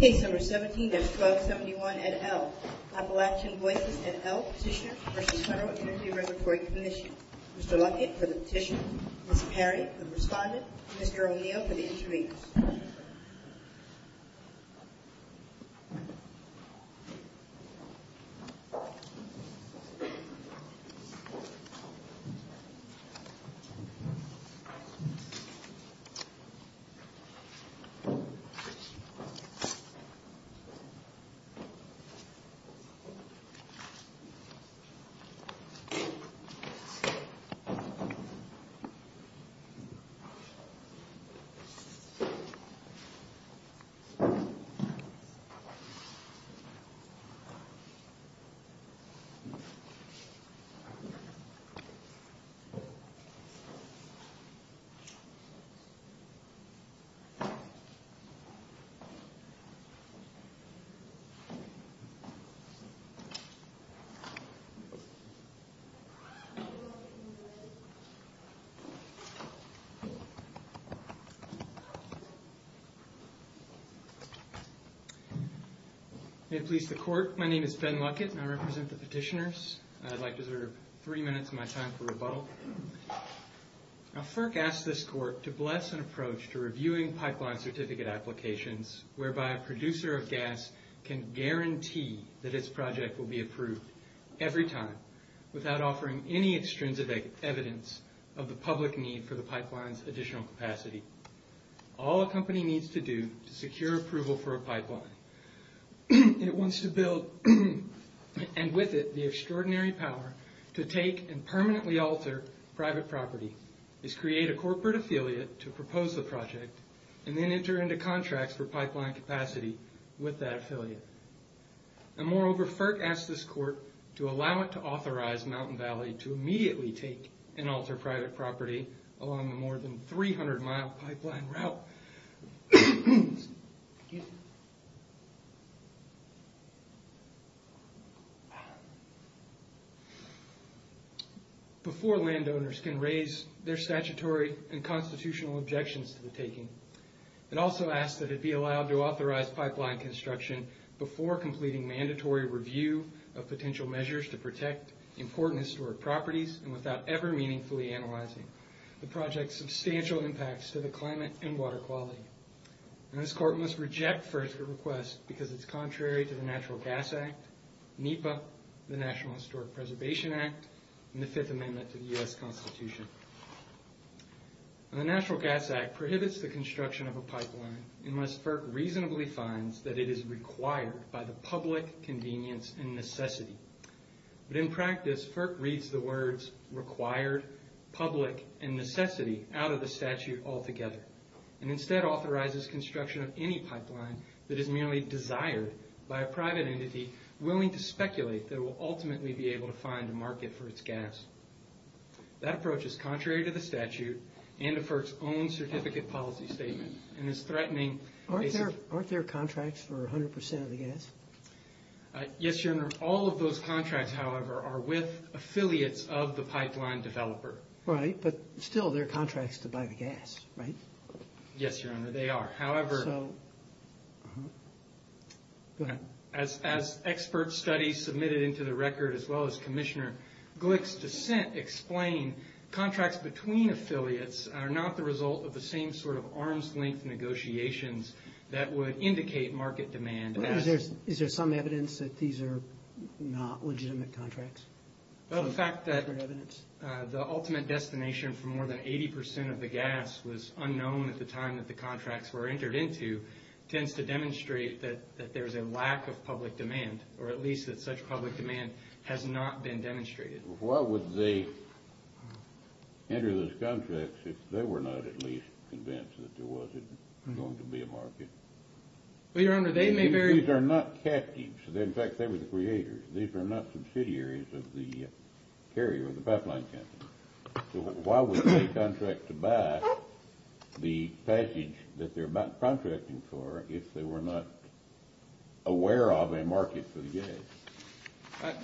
17-1271 ed. L. Appalachian Voices, ed. L. Petitioners v. Federal Energy and Reservatory Commission Mr. Luckett for the petition, Ms. Perry for the respondent, and Mr. O'Neill for the interveners. Mr. Luckett. May it please the Court, my name is Ben Luckett and I represent the petitioners. I'd like to reserve three minutes of my time for rebuttal. Now FERC asks this Court to bless an approach to reviewing pipeline certificate applications whereby a producer of gas can guarantee that its project will be approved every time without offering any extrinsic evidence of the public need for the pipeline's additional capacity. All a company needs to do to secure approval for a pipeline, and it wants to build, and with it the extraordinary power to take and permanently alter private property, is create a corporate affiliate to propose the project, and then enter into contracts for pipeline capacity with that affiliate. And moreover, FERC asks this Court to allow it to authorize Mountain Valley to immediately take and alter private property along the more than 300 mile pipeline route before landowners can raise their statutory and constitutional objections to the taking. It also asks that it be allowed to authorize pipeline construction before completing mandatory review of potential measures to protect important historic properties and without ever meaningfully analyzing the project's substantial impacts to the climate and water quality. This Court must reject FERC's request because it's contrary to the Natural Gas Act, NEPA, the National Historic Preservation Act, and the Fifth Amendment to the U.S. Constitution. The Natural Gas Act prohibits the construction of a pipeline unless FERC reasonably finds that it is required by the public convenience and necessity. But in practice, FERC reads the words required, public, and necessity out of the statute altogether, and instead authorizes construction of any pipeline that is merely desired by a private entity willing to speculate that it will ultimately be able to find a market for its gas. That approach is contrary to the statute and to FERC's own certificate policy statement Aren't there contracts for 100% of the gas? Yes, Your Honor. All of those contracts, however, are with affiliates of the pipeline developer. Right, but still, they're contracts to buy the gas, right? Yes, Your Honor, they are. However, as expert studies submitted into the record, as well as Commissioner Glick's dissent explain, contracts between affiliates are not the result of the same sort of arm's-length negotiations that would indicate market demand. Is there some evidence that these are not legitimate contracts? The fact that the ultimate destination for more than 80% of the gas was unknown at the time that the contracts were entered into tends to demonstrate that there's a lack of public demand, or at least that such public demand has not been demonstrated. Why would they enter those contracts if they were not at least convinced that there wasn't going to be a market? Well, Your Honor, they may very— These are not captives. In fact, they were the creators. These are not subsidiaries of the carrier or the pipeline company. So why would they contract to buy the package that they're contracting for if they were not aware of a market for the gas?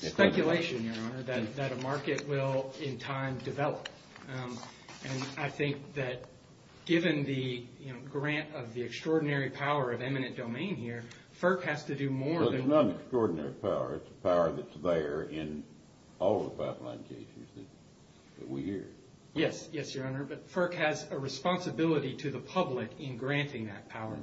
It's speculation, Your Honor, that a market will in time develop. And I think that given the grant of the extraordinary power of eminent domain here, FERC has to do more than— Well, it's not an extraordinary power. It's a power that's there in all the pipeline cases that we hear. Yes. Yes, Your Honor. But FERC has a responsibility to the public in granting that power.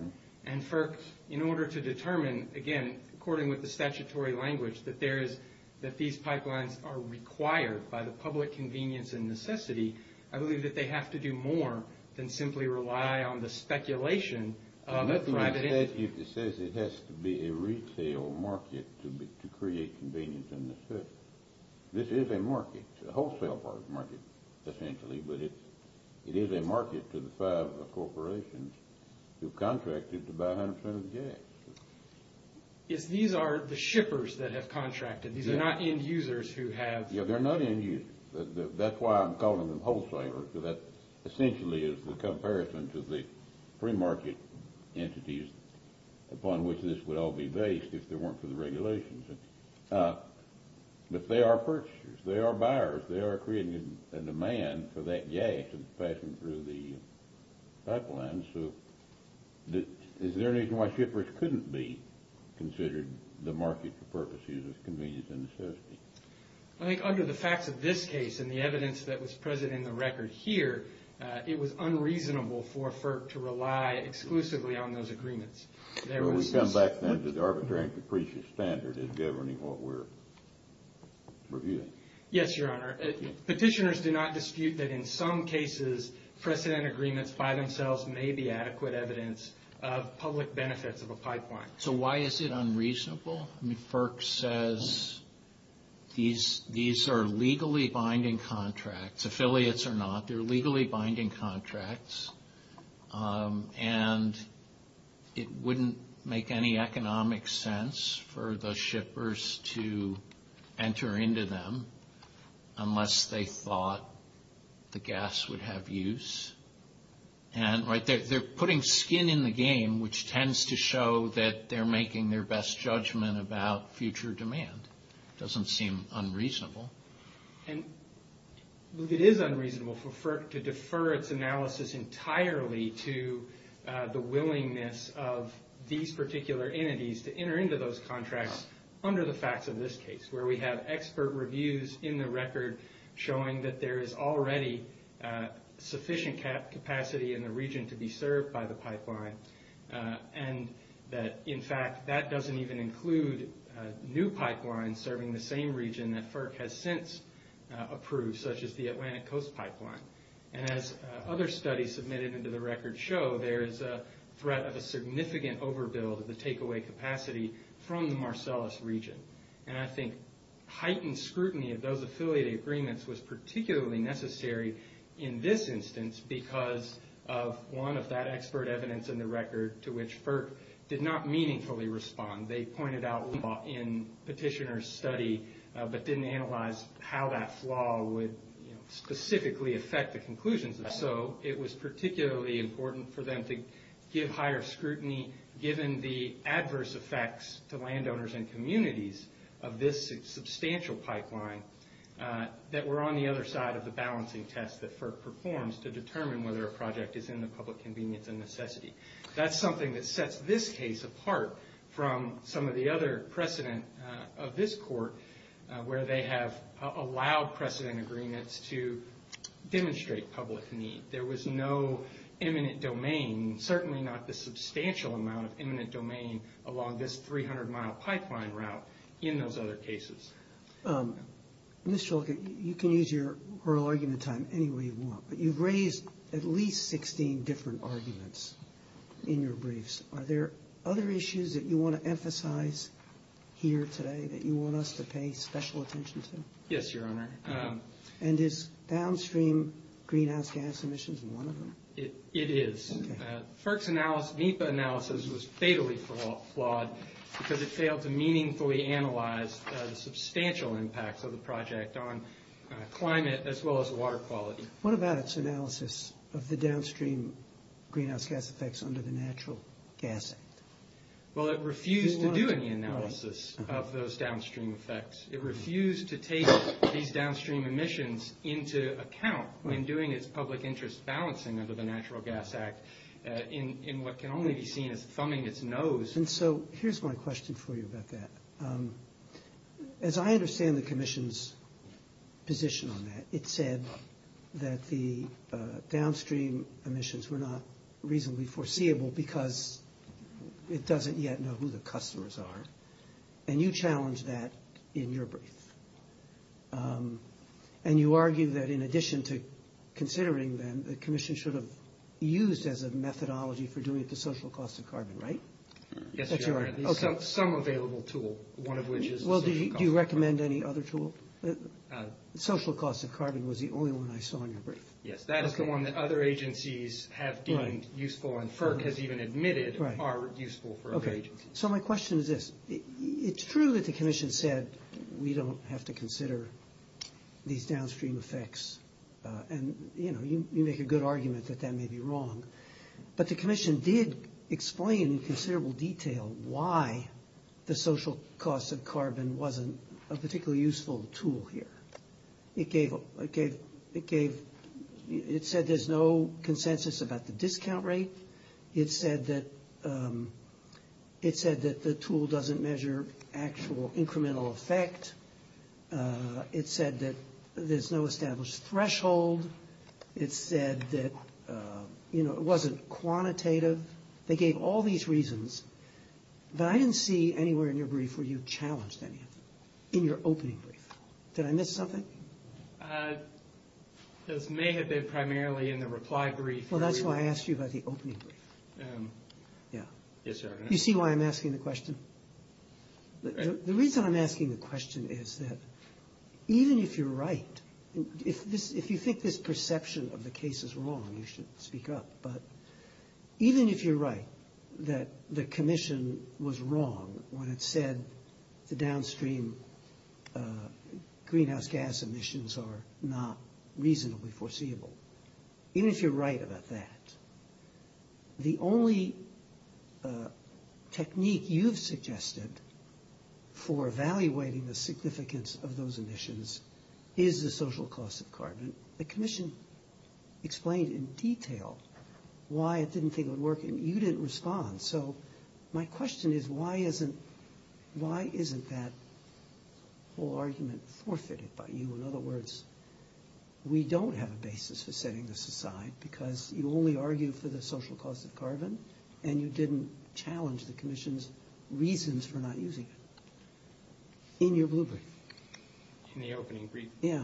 And FERC, in order to determine, again, according with the statutory language, that these pipelines are required by the public convenience and necessity, I believe that they have to do more than simply rely on the speculation of a private entity. It says it has to be a retail market to create convenience and necessity. This is a market, a wholesale market essentially, but it is a market to the five corporations who have contracted to buy 100 percent of the gas. These are the shippers that have contracted. These are not end users who have— They're not end users. That's why I'm calling them wholesalers, because that essentially is the comparison to the pre-market entities upon which this would all be based if there weren't for the regulations. But they are purchasers. They are buyers. They are creating a demand for that gas that's passing through the pipeline. So is there any reason why shippers couldn't be considered the market for purposes of convenience and necessity? I think under the facts of this case and the evidence that was present in the record here, it was unreasonable for FERC to rely exclusively on those agreements. Well, we come back then to the arbitrary and capricious standard in governing what we're reviewing. Yes, Your Honor. Petitioners do not dispute that in some cases precedent agreements by themselves may be adequate evidence of public benefits of a pipeline. So why is it unreasonable? FERC says these are legally binding contracts. Affiliates are not. They're legally binding contracts, and it wouldn't make any economic sense for the shippers to enter into them unless they thought the gas would have use. And they're putting skin in the game, which tends to show that they're making their best judgment about future demand. It doesn't seem unreasonable. And it is unreasonable for FERC to defer its analysis entirely to the willingness of these particular entities to enter into those contracts under the facts of this case, where we have expert reviews in the record showing that there is already sufficient capacity in the region to be served by the pipeline and that, in fact, that doesn't even include new pipelines serving the same region that FERC has since approved, such as the Atlantic Coast Pipeline. And as other studies submitted into the record show, there is a threat of a significant overbuild of the takeaway capacity from the Marcellus region. And I think heightened scrutiny of those affiliated agreements was particularly necessary in this instance because of one of that expert evidence in the record to which FERC did not meaningfully respond. They pointed out in petitioner's study but didn't analyze how that flaw would specifically affect the conclusions. And so it was particularly important for them to give higher scrutiny, given the adverse effects to landowners and communities of this substantial pipeline that were on the other side of the balancing test that FERC performs to determine whether a project is in the public convenience and necessity. That's something that sets this case apart from some of the other precedent of this court where they have allowed precedent agreements to demonstrate public need. There was no imminent domain, certainly not the substantial amount of imminent domain, along this 300-mile pipeline route in those other cases. Mr. Olcott, you can use your oral argument time any way you want, but you've raised at least 16 different arguments in your briefs. Are there other issues that you want to emphasize here today that you want us to pay special attention to? Yes, Your Honor. And is downstream greenhouse gas emissions one of them? It is. FERC's NEPA analysis was fatally flawed because it failed to meaningfully analyze the substantial impacts of the project on climate as well as water quality. What about its analysis of the downstream greenhouse gas effects under the Natural Gas Act? Well, it refused to do any analysis of those downstream effects. It refused to take these downstream emissions into account when doing its public interest balancing under the Natural Gas Act in what can only be seen as thumbing its nose. And so here's my question for you about that. As I understand the commission's position on that, it said that the downstream emissions were not reasonably foreseeable because it doesn't yet know who the customers are. And you challenged that in your brief. And you argue that in addition to considering them, the commission should have used as a methodology for doing it the social cost of carbon, right? Yes, Your Honor. Some available tool, one of which is the social cost of carbon. Well, do you recommend any other tool? The social cost of carbon was the only one I saw in your brief. Yes, that is the one that other agencies have deemed useful and FERC has even admitted are useful for other agencies. So my question is this. It's true that the commission said we don't have to consider these downstream effects. And, you know, you make a good argument that that may be wrong. But the commission did explain in considerable detail why the social cost of carbon wasn't a particularly useful tool here. It said there's no consensus about the discount rate. It said that the tool doesn't measure actual incremental effect. It said that there's no established threshold. It said that, you know, it wasn't quantitative. They gave all these reasons. But I didn't see anywhere in your brief where you challenged anything in your opening brief. Did I miss something? This may have been primarily in the reply brief. Well, that's why I asked you about the opening brief. Yeah. You see why I'm asking the question? The reason I'm asking the question is that even if you're right, if you think this perception of the case is wrong, you should speak up. But even if you're right that the commission was wrong when it said the downstream greenhouse gas emissions are not reasonably foreseeable, even if you're right about that, the only technique you've suggested for evaluating the significance of those emissions is the social cost of carbon. The commission explained in detail why it didn't think it would work, and you didn't respond. So my question is why isn't that whole argument forfeited by you? In other words, we don't have a basis for setting this aside because you only argue for the social cost of carbon, and you didn't challenge the commission's reasons for not using it in your blueprint. In the opening brief? Yeah.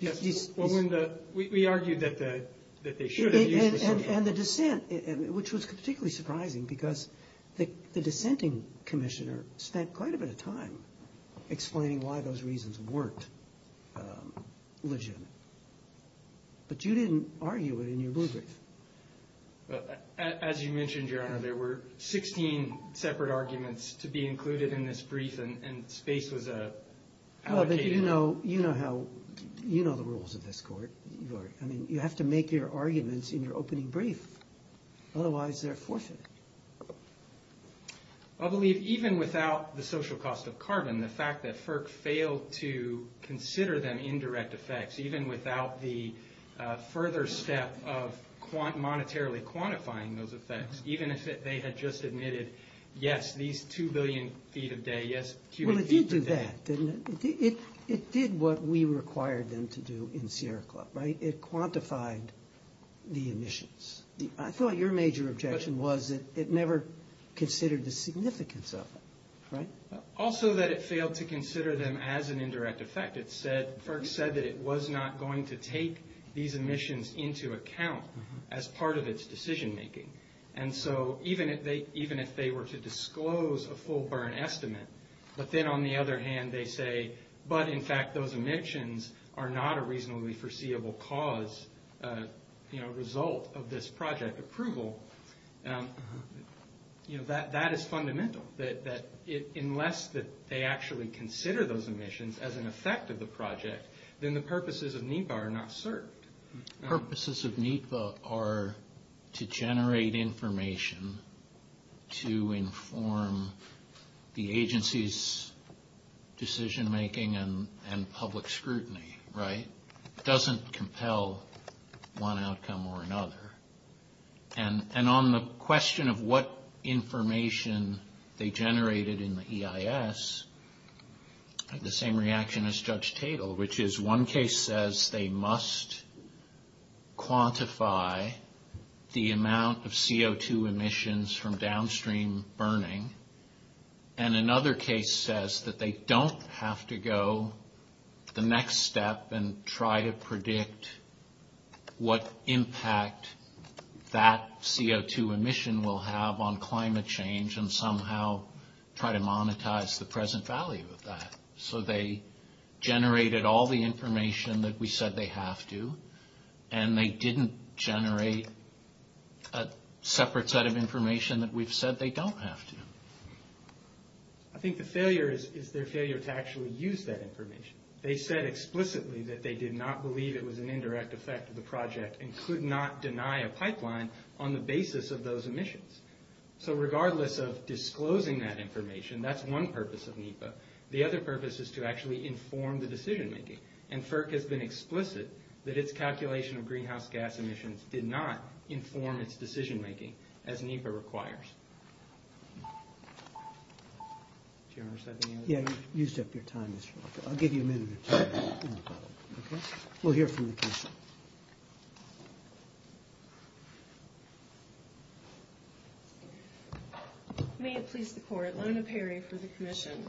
We argued that they should have used the social cost. And the dissent, which was particularly surprising because the dissenting commissioner spent quite a bit of time explaining why those reasons weren't legitimate. But you didn't argue it in your blueprint. As you mentioned, Your Honor, there were 16 separate arguments to be included in this brief, and space was allocated. You know the rules of this court. I mean, you have to make your arguments in your opening brief. Otherwise, they're forfeited. I believe even without the social cost of carbon, the fact that FERC failed to consider them indirect effects, even without the further step of monetarily quantifying those effects, even if they had just admitted, yes, these 2 billion feet a day, yes, cubic feet a day. Well, it did do that, didn't it? It did what we required them to do in Sierra Club, right? It quantified the emissions. I thought your major objection was that it never considered the significance of it, right? Also that it failed to consider them as an indirect effect. It said, FERC said that it was not going to take these emissions into account as part of its decision making. And so even if they were to disclose a full burn estimate, but then on the other hand they say, but in fact those emissions are not a reasonably foreseeable cause, result of this project approval, that is fundamental. Unless they actually consider those emissions as an effect of the project, then the purposes of NEPA are not served. Purposes of NEPA are to generate information to inform the agency's decision making and public scrutiny, right? It doesn't compel one outcome or another. And on the question of what information they generated in the EIS, the same reaction as Judge Tatel, which is one case says they must quantify the amount of CO2 emissions from downstream burning. And another case says that they don't have to go the next step and try to predict what impact that CO2 emission will have on climate change and somehow try to monetize the present value of that. So they generated all the information that we said they have to, and they didn't generate a separate set of information that we've said they don't have to. I think the failure is their failure to actually use that information. They said explicitly that they did not believe it was an indirect effect of the project and could not deny a pipeline on the basis of those emissions. So regardless of disclosing that information, that's one purpose of NEPA. The other purpose is to actually inform the decision making. And FERC has been explicit that its calculation of greenhouse gas emissions did not inform its decision making as NEPA requires. Do you want me to set the time? Yeah, you set your time. I'll give you a minute. We'll hear from the commission. May it please the court, Lona Perry for the commission.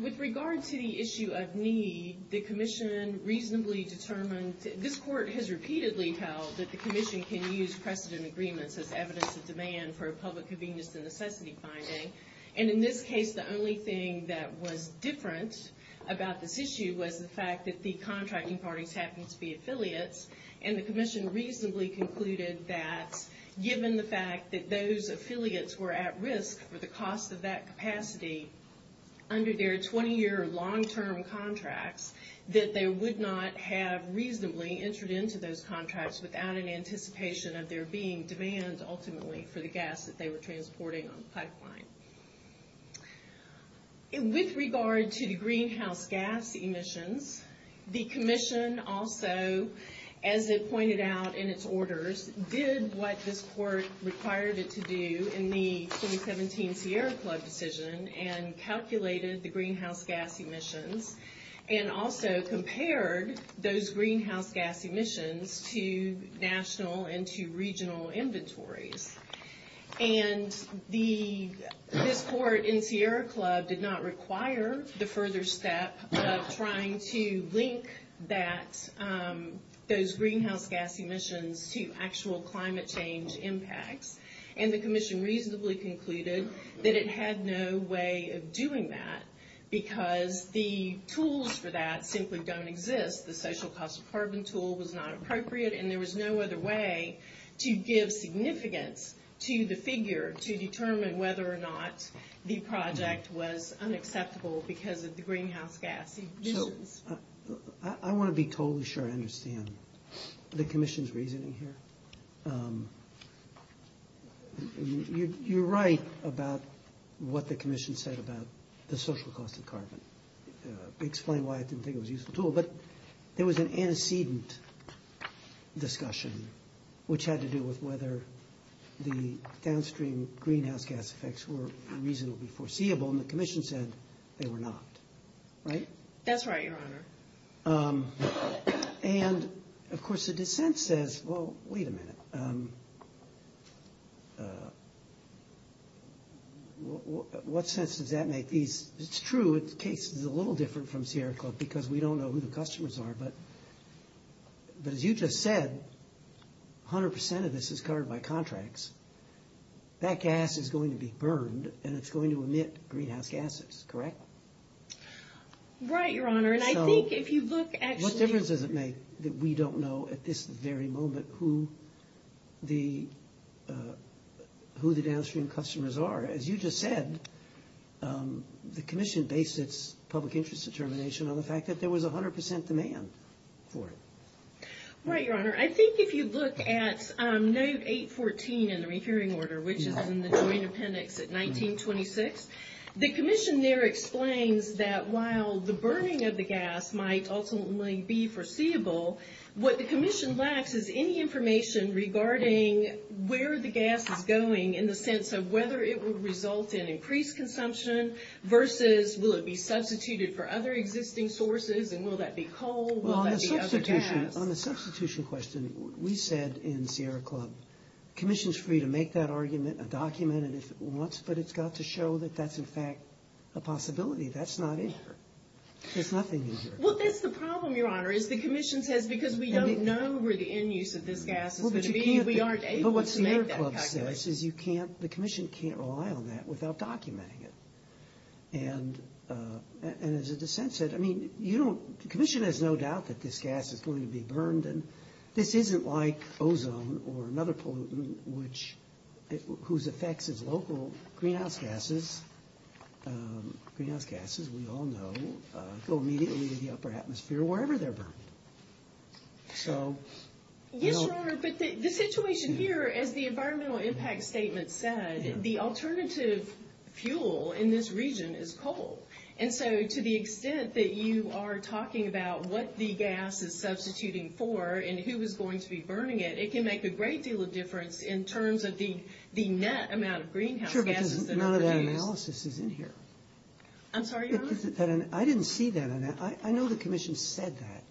With regard to the issue of need, the commission reasonably determined, this court has repeatedly held that the commission can use precedent agreements as evidence of demand for a public convenience and necessity finding. And in this case, the only thing that was different about this issue was the fact that the contracting parties happened to be affiliates, and the commission reasonably concluded that, given the fact that those affiliates were at risk for the cost of that capacity, under their 20-year long-term contracts, that they would not have reasonably entered into those contracts without an anticipation of there being demand, ultimately, for the gas that they were transporting on the pipeline. With regard to the greenhouse gas emissions, the commission also, as it pointed out in its orders, did what this court required it to do in the 2017 Sierra Club decision and calculated the greenhouse gas emissions and also compared those greenhouse gas emissions to national and to regional inventories. And this court in Sierra Club did not require the further step of trying to link those greenhouse gas emissions to actual climate change impacts, and the commission reasonably concluded that it had no way of doing that because the tools for that simply don't exist. The social cost of carbon tool was not appropriate, and there was no other way to give significance to the figure to determine whether or not the project was unacceptable because of the greenhouse gas emissions. I want to be totally sure I understand the commission's reasoning here. You're right about what the commission said about the social cost of carbon. Explain why I didn't think it was a useful tool, but there was an antecedent discussion which had to do with whether the downstream greenhouse gas effects were reasonably foreseeable, and the commission said they were not, right? That's right, Your Honor. And, of course, the dissent says, well, wait a minute. What sense does that make? It's true the case is a little different from Sierra Club because we don't know who the customers are, but as you just said, 100% of this is covered by contracts. That gas is going to be burned, and it's going to emit greenhouse gases, correct? Right, Your Honor. What difference does it make that we don't know at this very moment who the downstream customers are? As you just said, the commission based its public interest determination on the fact that there was 100% demand for it. Right, Your Honor. I think if you look at note 814 in the rehearing order, which is in the joint appendix at 1926, the commission there explains that while the burning of the gas might ultimately be foreseeable, what the commission lacks is any information regarding where the gas is going in the sense of whether it will result in increased consumption versus will it be substituted for other existing sources, and will that be coal, will that be other gas? Well, on the substitution question, we said in Sierra Club, the commission is free to make that argument, document it if it wants, but it's got to show that that's, in fact, a possibility. That's not in here. There's nothing in here. Well, that's the problem, Your Honor, is the commission says because we don't know where the end use of this gas is going to be, we aren't able to make that calculation. But what Sierra Club says is you can't, the commission can't rely on that without documenting it. And as the dissent said, I mean, you don't, the commission has no doubt that this gas is going to be burned, and this isn't like ozone or another pollutant, whose effects as local greenhouse gases, greenhouse gases, we all know, go immediately to the upper atmosphere wherever they're burned. So, you know. Yes, Your Honor, but the situation here, as the environmental impact statement said, the alternative fuel in this region is coal. And so to the extent that you are talking about what the gas is substituting for and who is going to be burning it, it can make a great deal of difference in terms of the net amount of greenhouse gases that are produced. Sure, because none of that analysis is in here. I'm sorry, Your Honor? I didn't see that. I know the commission said that.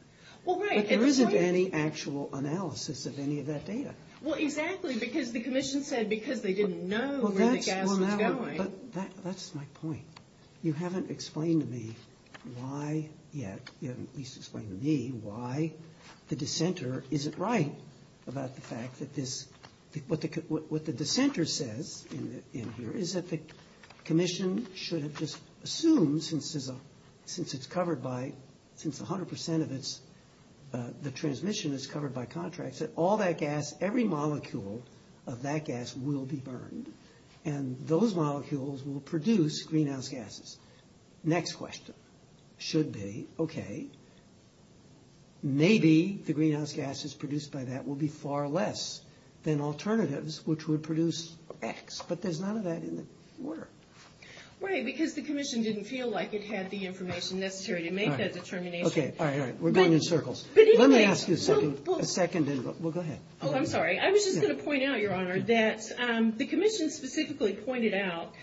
Well, right. But there isn't any actual analysis of any of that data. Well, exactly, because the commission said because they didn't know where the gas was going. Well, that's my point. You haven't explained to me why yet, what the dissenter says in here is that the commission should have just assumed, since it's covered by, since 100 percent of the transmission is covered by contracts, that all that gas, every molecule of that gas will be burned, and those molecules will produce greenhouse gases. Next question should be, okay, maybe the greenhouse gases produced by that will be far less than alternatives, which would produce X. But there's none of that in the order. Right, because the commission didn't feel like it had the information necessary to make that determination. Okay, all right, all right. We're going in circles. Let me ask you a second, and we'll go ahead. Oh, I'm sorry. I was just going to point out, Your Honor, that the commission specifically pointed out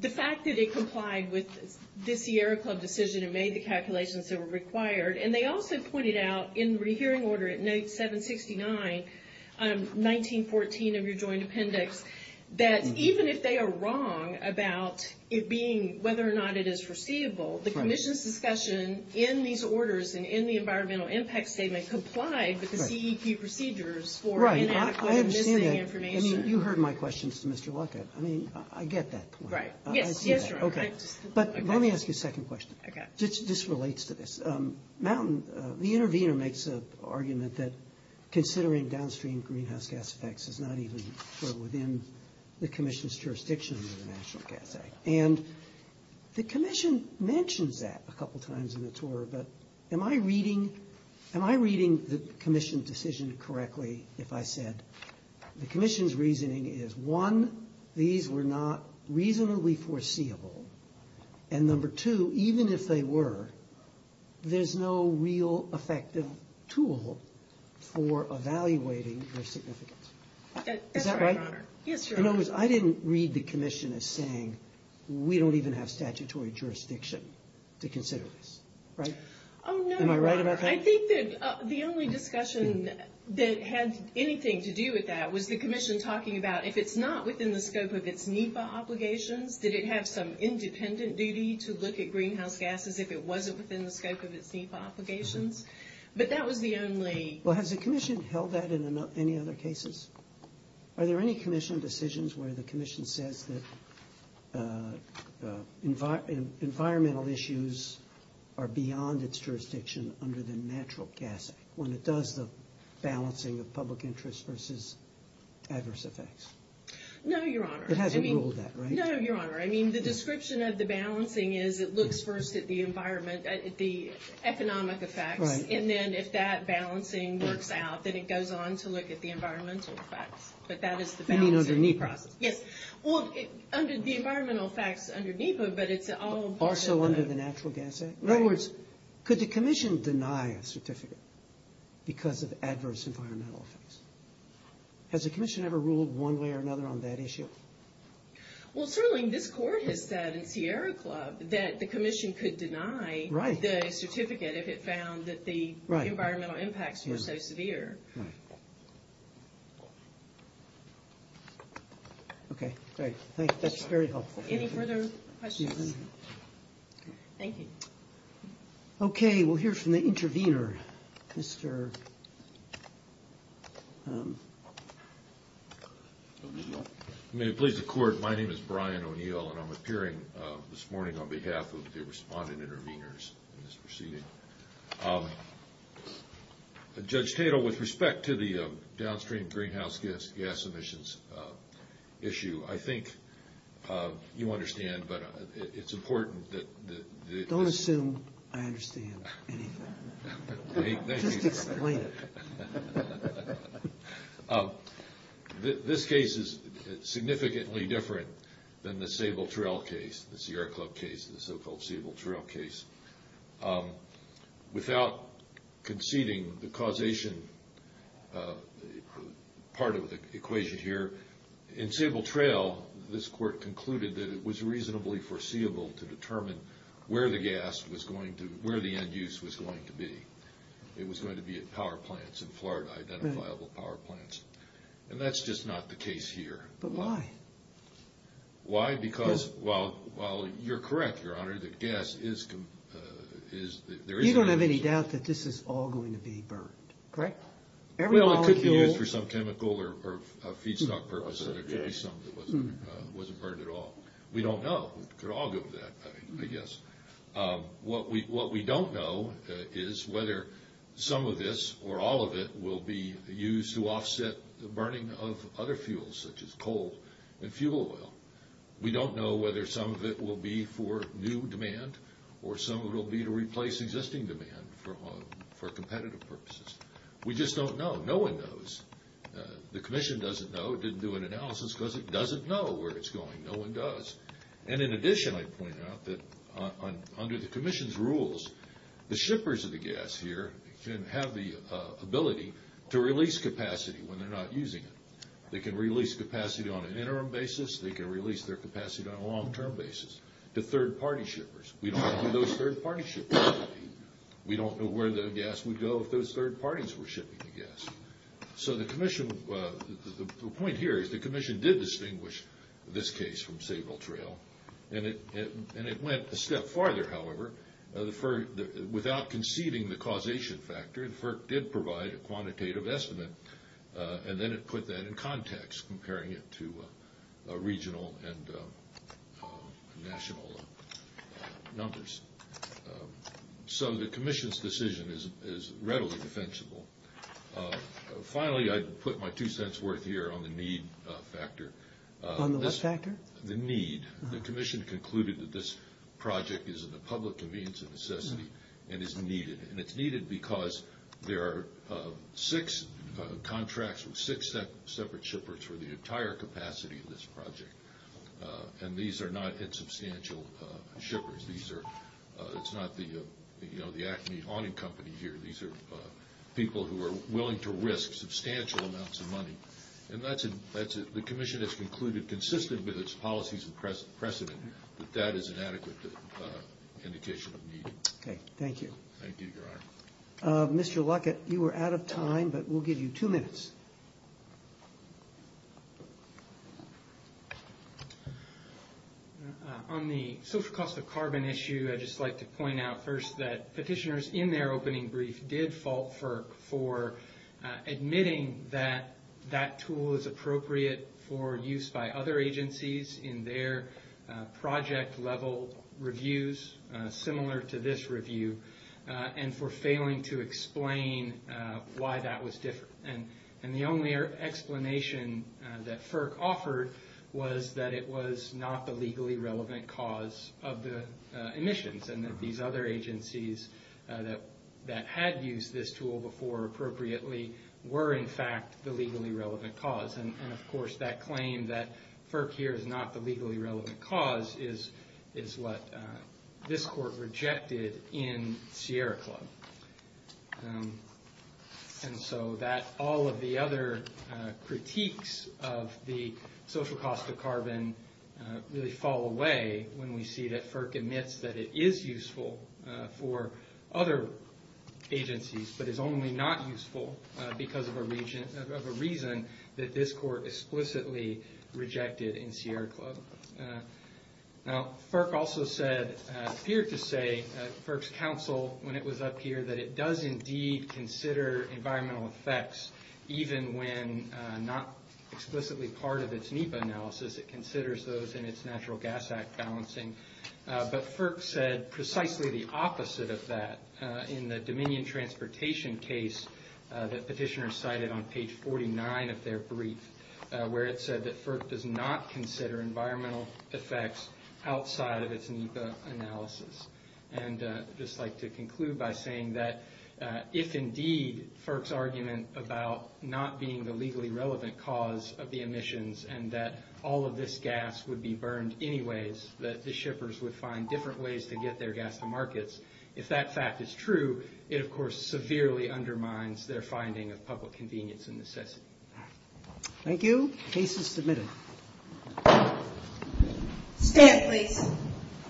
the fact that it complied with this Sierra Club decision and made the calculations that were required, and they also pointed out in the rehearing order at note 769, 1914 of your joint appendix, that even if they are wrong about it being, whether or not it is foreseeable, the commission's discussion in these orders and in the environmental impact statement complied with the CEP procedures for inadequately missing information. Right, I understand that. I mean, you heard my questions to Mr. Luckett. I mean, I get that point. Right. Yes, Your Honor. Okay. But let me ask you a second question. Okay. This relates to this. Mountain, the intervener, makes an argument that considering downstream greenhouse gas effects is not even within the commission's jurisdiction under the National Gas Act. And the commission mentions that a couple times in the tour, but am I reading the commission's decision correctly if I said the commission's reasoning is, one, these were not reasonably foreseeable, and number two, even if they were, there's no real effective tool for evaluating their significance. Is that right? That's right, Your Honor. Yes, Your Honor. In other words, I didn't read the commission as saying we don't even have statutory jurisdiction to consider this, right? Oh, no. Am I right about that? I think that the only discussion that had anything to do with that was the commission talking about if it's not within the scope of its NEPA obligations, did it have some independent duty to look at greenhouse gases if it wasn't within the scope of its NEPA obligations? But that was the only – Well, has the commission held that in any other cases? Are there any commission decisions where the commission says that environmental issues are beyond its jurisdiction under the Natural Gas Act when it does the balancing of public interest versus adverse effects? No, Your Honor. It hasn't ruled that, right? No, Your Honor. I mean, the description of the balancing is it looks first at the economic effects. Right. And then if that balancing works out, then it goes on to look at the environmental effects. But that is the balancing process. You mean under NEPA? Yes. Well, the environmental effects under NEPA, but it's all – Also under the Natural Gas Act? Right. In other words, could the commission deny a certificate because of adverse environmental effects? Has the commission ever ruled one way or another on that issue? Well, certainly this court has said in Sierra Club that the commission could deny the certificate if it found that the environmental impacts were so severe. Right. Right. Okay. Great. Thank you. That's very helpful. Any further questions? Thank you. Okay. We'll hear from the intervener, Mr. O'Neill. May it please the Court, my name is Brian O'Neill, and I'm appearing this morning on behalf of the respondent interveners in this proceeding. Judge Tatel, with respect to the downstream greenhouse gas emissions issue, I think you understand, but it's important that – Don't assume I understand anything. Just explain it. This case is significantly different than the Sable Trail case, the Sierra Club case, the so-called Sable Trail case. Without conceding the causation part of the equation here, in Sable Trail this court concluded that it was reasonably foreseeable to determine where the gas was going to – where the end use was going to be. It was going to be at power plants in Florida, identifiable power plants. And that's just not the case here. But why? Why? Because while you're correct, Your Honor, that gas is – there is – You don't have any doubt that this is all going to be burned, correct? Every molecule – Well, it could be used for some chemical or feedstock purpose, and there could be some that wasn't burned at all. We don't know. We could all go with that, I guess. What we don't know is whether some of this or all of it will be used to offset the burning of other fuels, such as coal and fuel oil. We don't know whether some of it will be for new demand or some of it will be to replace existing demand for competitive purposes. We just don't know. No one knows. The commission doesn't know. It didn't do an analysis because it doesn't know where it's going. No one does. And in addition, I point out that under the commission's rules, the shippers of the gas here can have the ability to release capacity when they're not using it. They can release capacity on an interim basis. They can release their capacity on a long-term basis to third-party shippers. We don't know who those third-party shippers would be. We don't know where the gas would go if those third parties were shipping the gas. So the commission – the point here is the commission did distinguish this case from Sable Trail, and it went a step farther, however. Without conceiving the causation factor, the FERC did provide a quantitative estimate, and then it put that in context, comparing it to regional and national numbers. So the commission's decision is readily defensible. Finally, I'd put my two cents' worth here on the need factor. On the what factor? The need. The commission concluded that this project is in the public convenience of necessity and is needed, and it's needed because there are six contracts with six separate shippers for the entire capacity of this project, and these are not insubstantial shippers. It's not the Acme Haunting Company here. These are people who are willing to risk substantial amounts of money, and the commission has concluded, consistent with its policies and precedent, that that is an adequate indication of need. Okay. Thank you. Thank you, Your Honor. Mr. Luckett, you were out of time, but we'll give you two minutes. On the social cost of carbon issue, I'd just like to point out first that petitioners in their opening brief did fault FERC for admitting that that tool is appropriate for use by other agencies in their project-level reviews, similar to this review, and for failing to explain why that was different. And the only explanation that FERC offered was that it was not the legally relevant cause of the emissions and that these other agencies that had used this tool before appropriately were, in fact, the legally relevant cause. And, of course, that claim that FERC here is not the legally relevant cause is what this court rejected in Sierra Club. And so that all of the other critiques of the social cost of carbon really fall away when we see that FERC admits that it is useful for other agencies, but is only not useful because of a reason that this court explicitly rejected in Sierra Club. Now, FERC also said, appeared to say, at FERC's counsel when it was up here, that it does indeed consider environmental effects, even when not explicitly part of its NEPA analysis, it considers those in its Natural Gas Act balancing. But FERC said precisely the opposite of that in the Dominion Transportation case that petitioners cited on page 49 of their brief, where it said that FERC does not consider environmental effects outside of its NEPA analysis. And I'd just like to conclude by saying that if indeed FERC's argument about not being the legally relevant cause of the emissions and that all of this gas would be burned anyways, that the shippers would find different ways to get their gas to markets, if that fact is true, it, of course, severely undermines their finding of public convenience and necessity. Thank you. Case is submitted. Stand, please.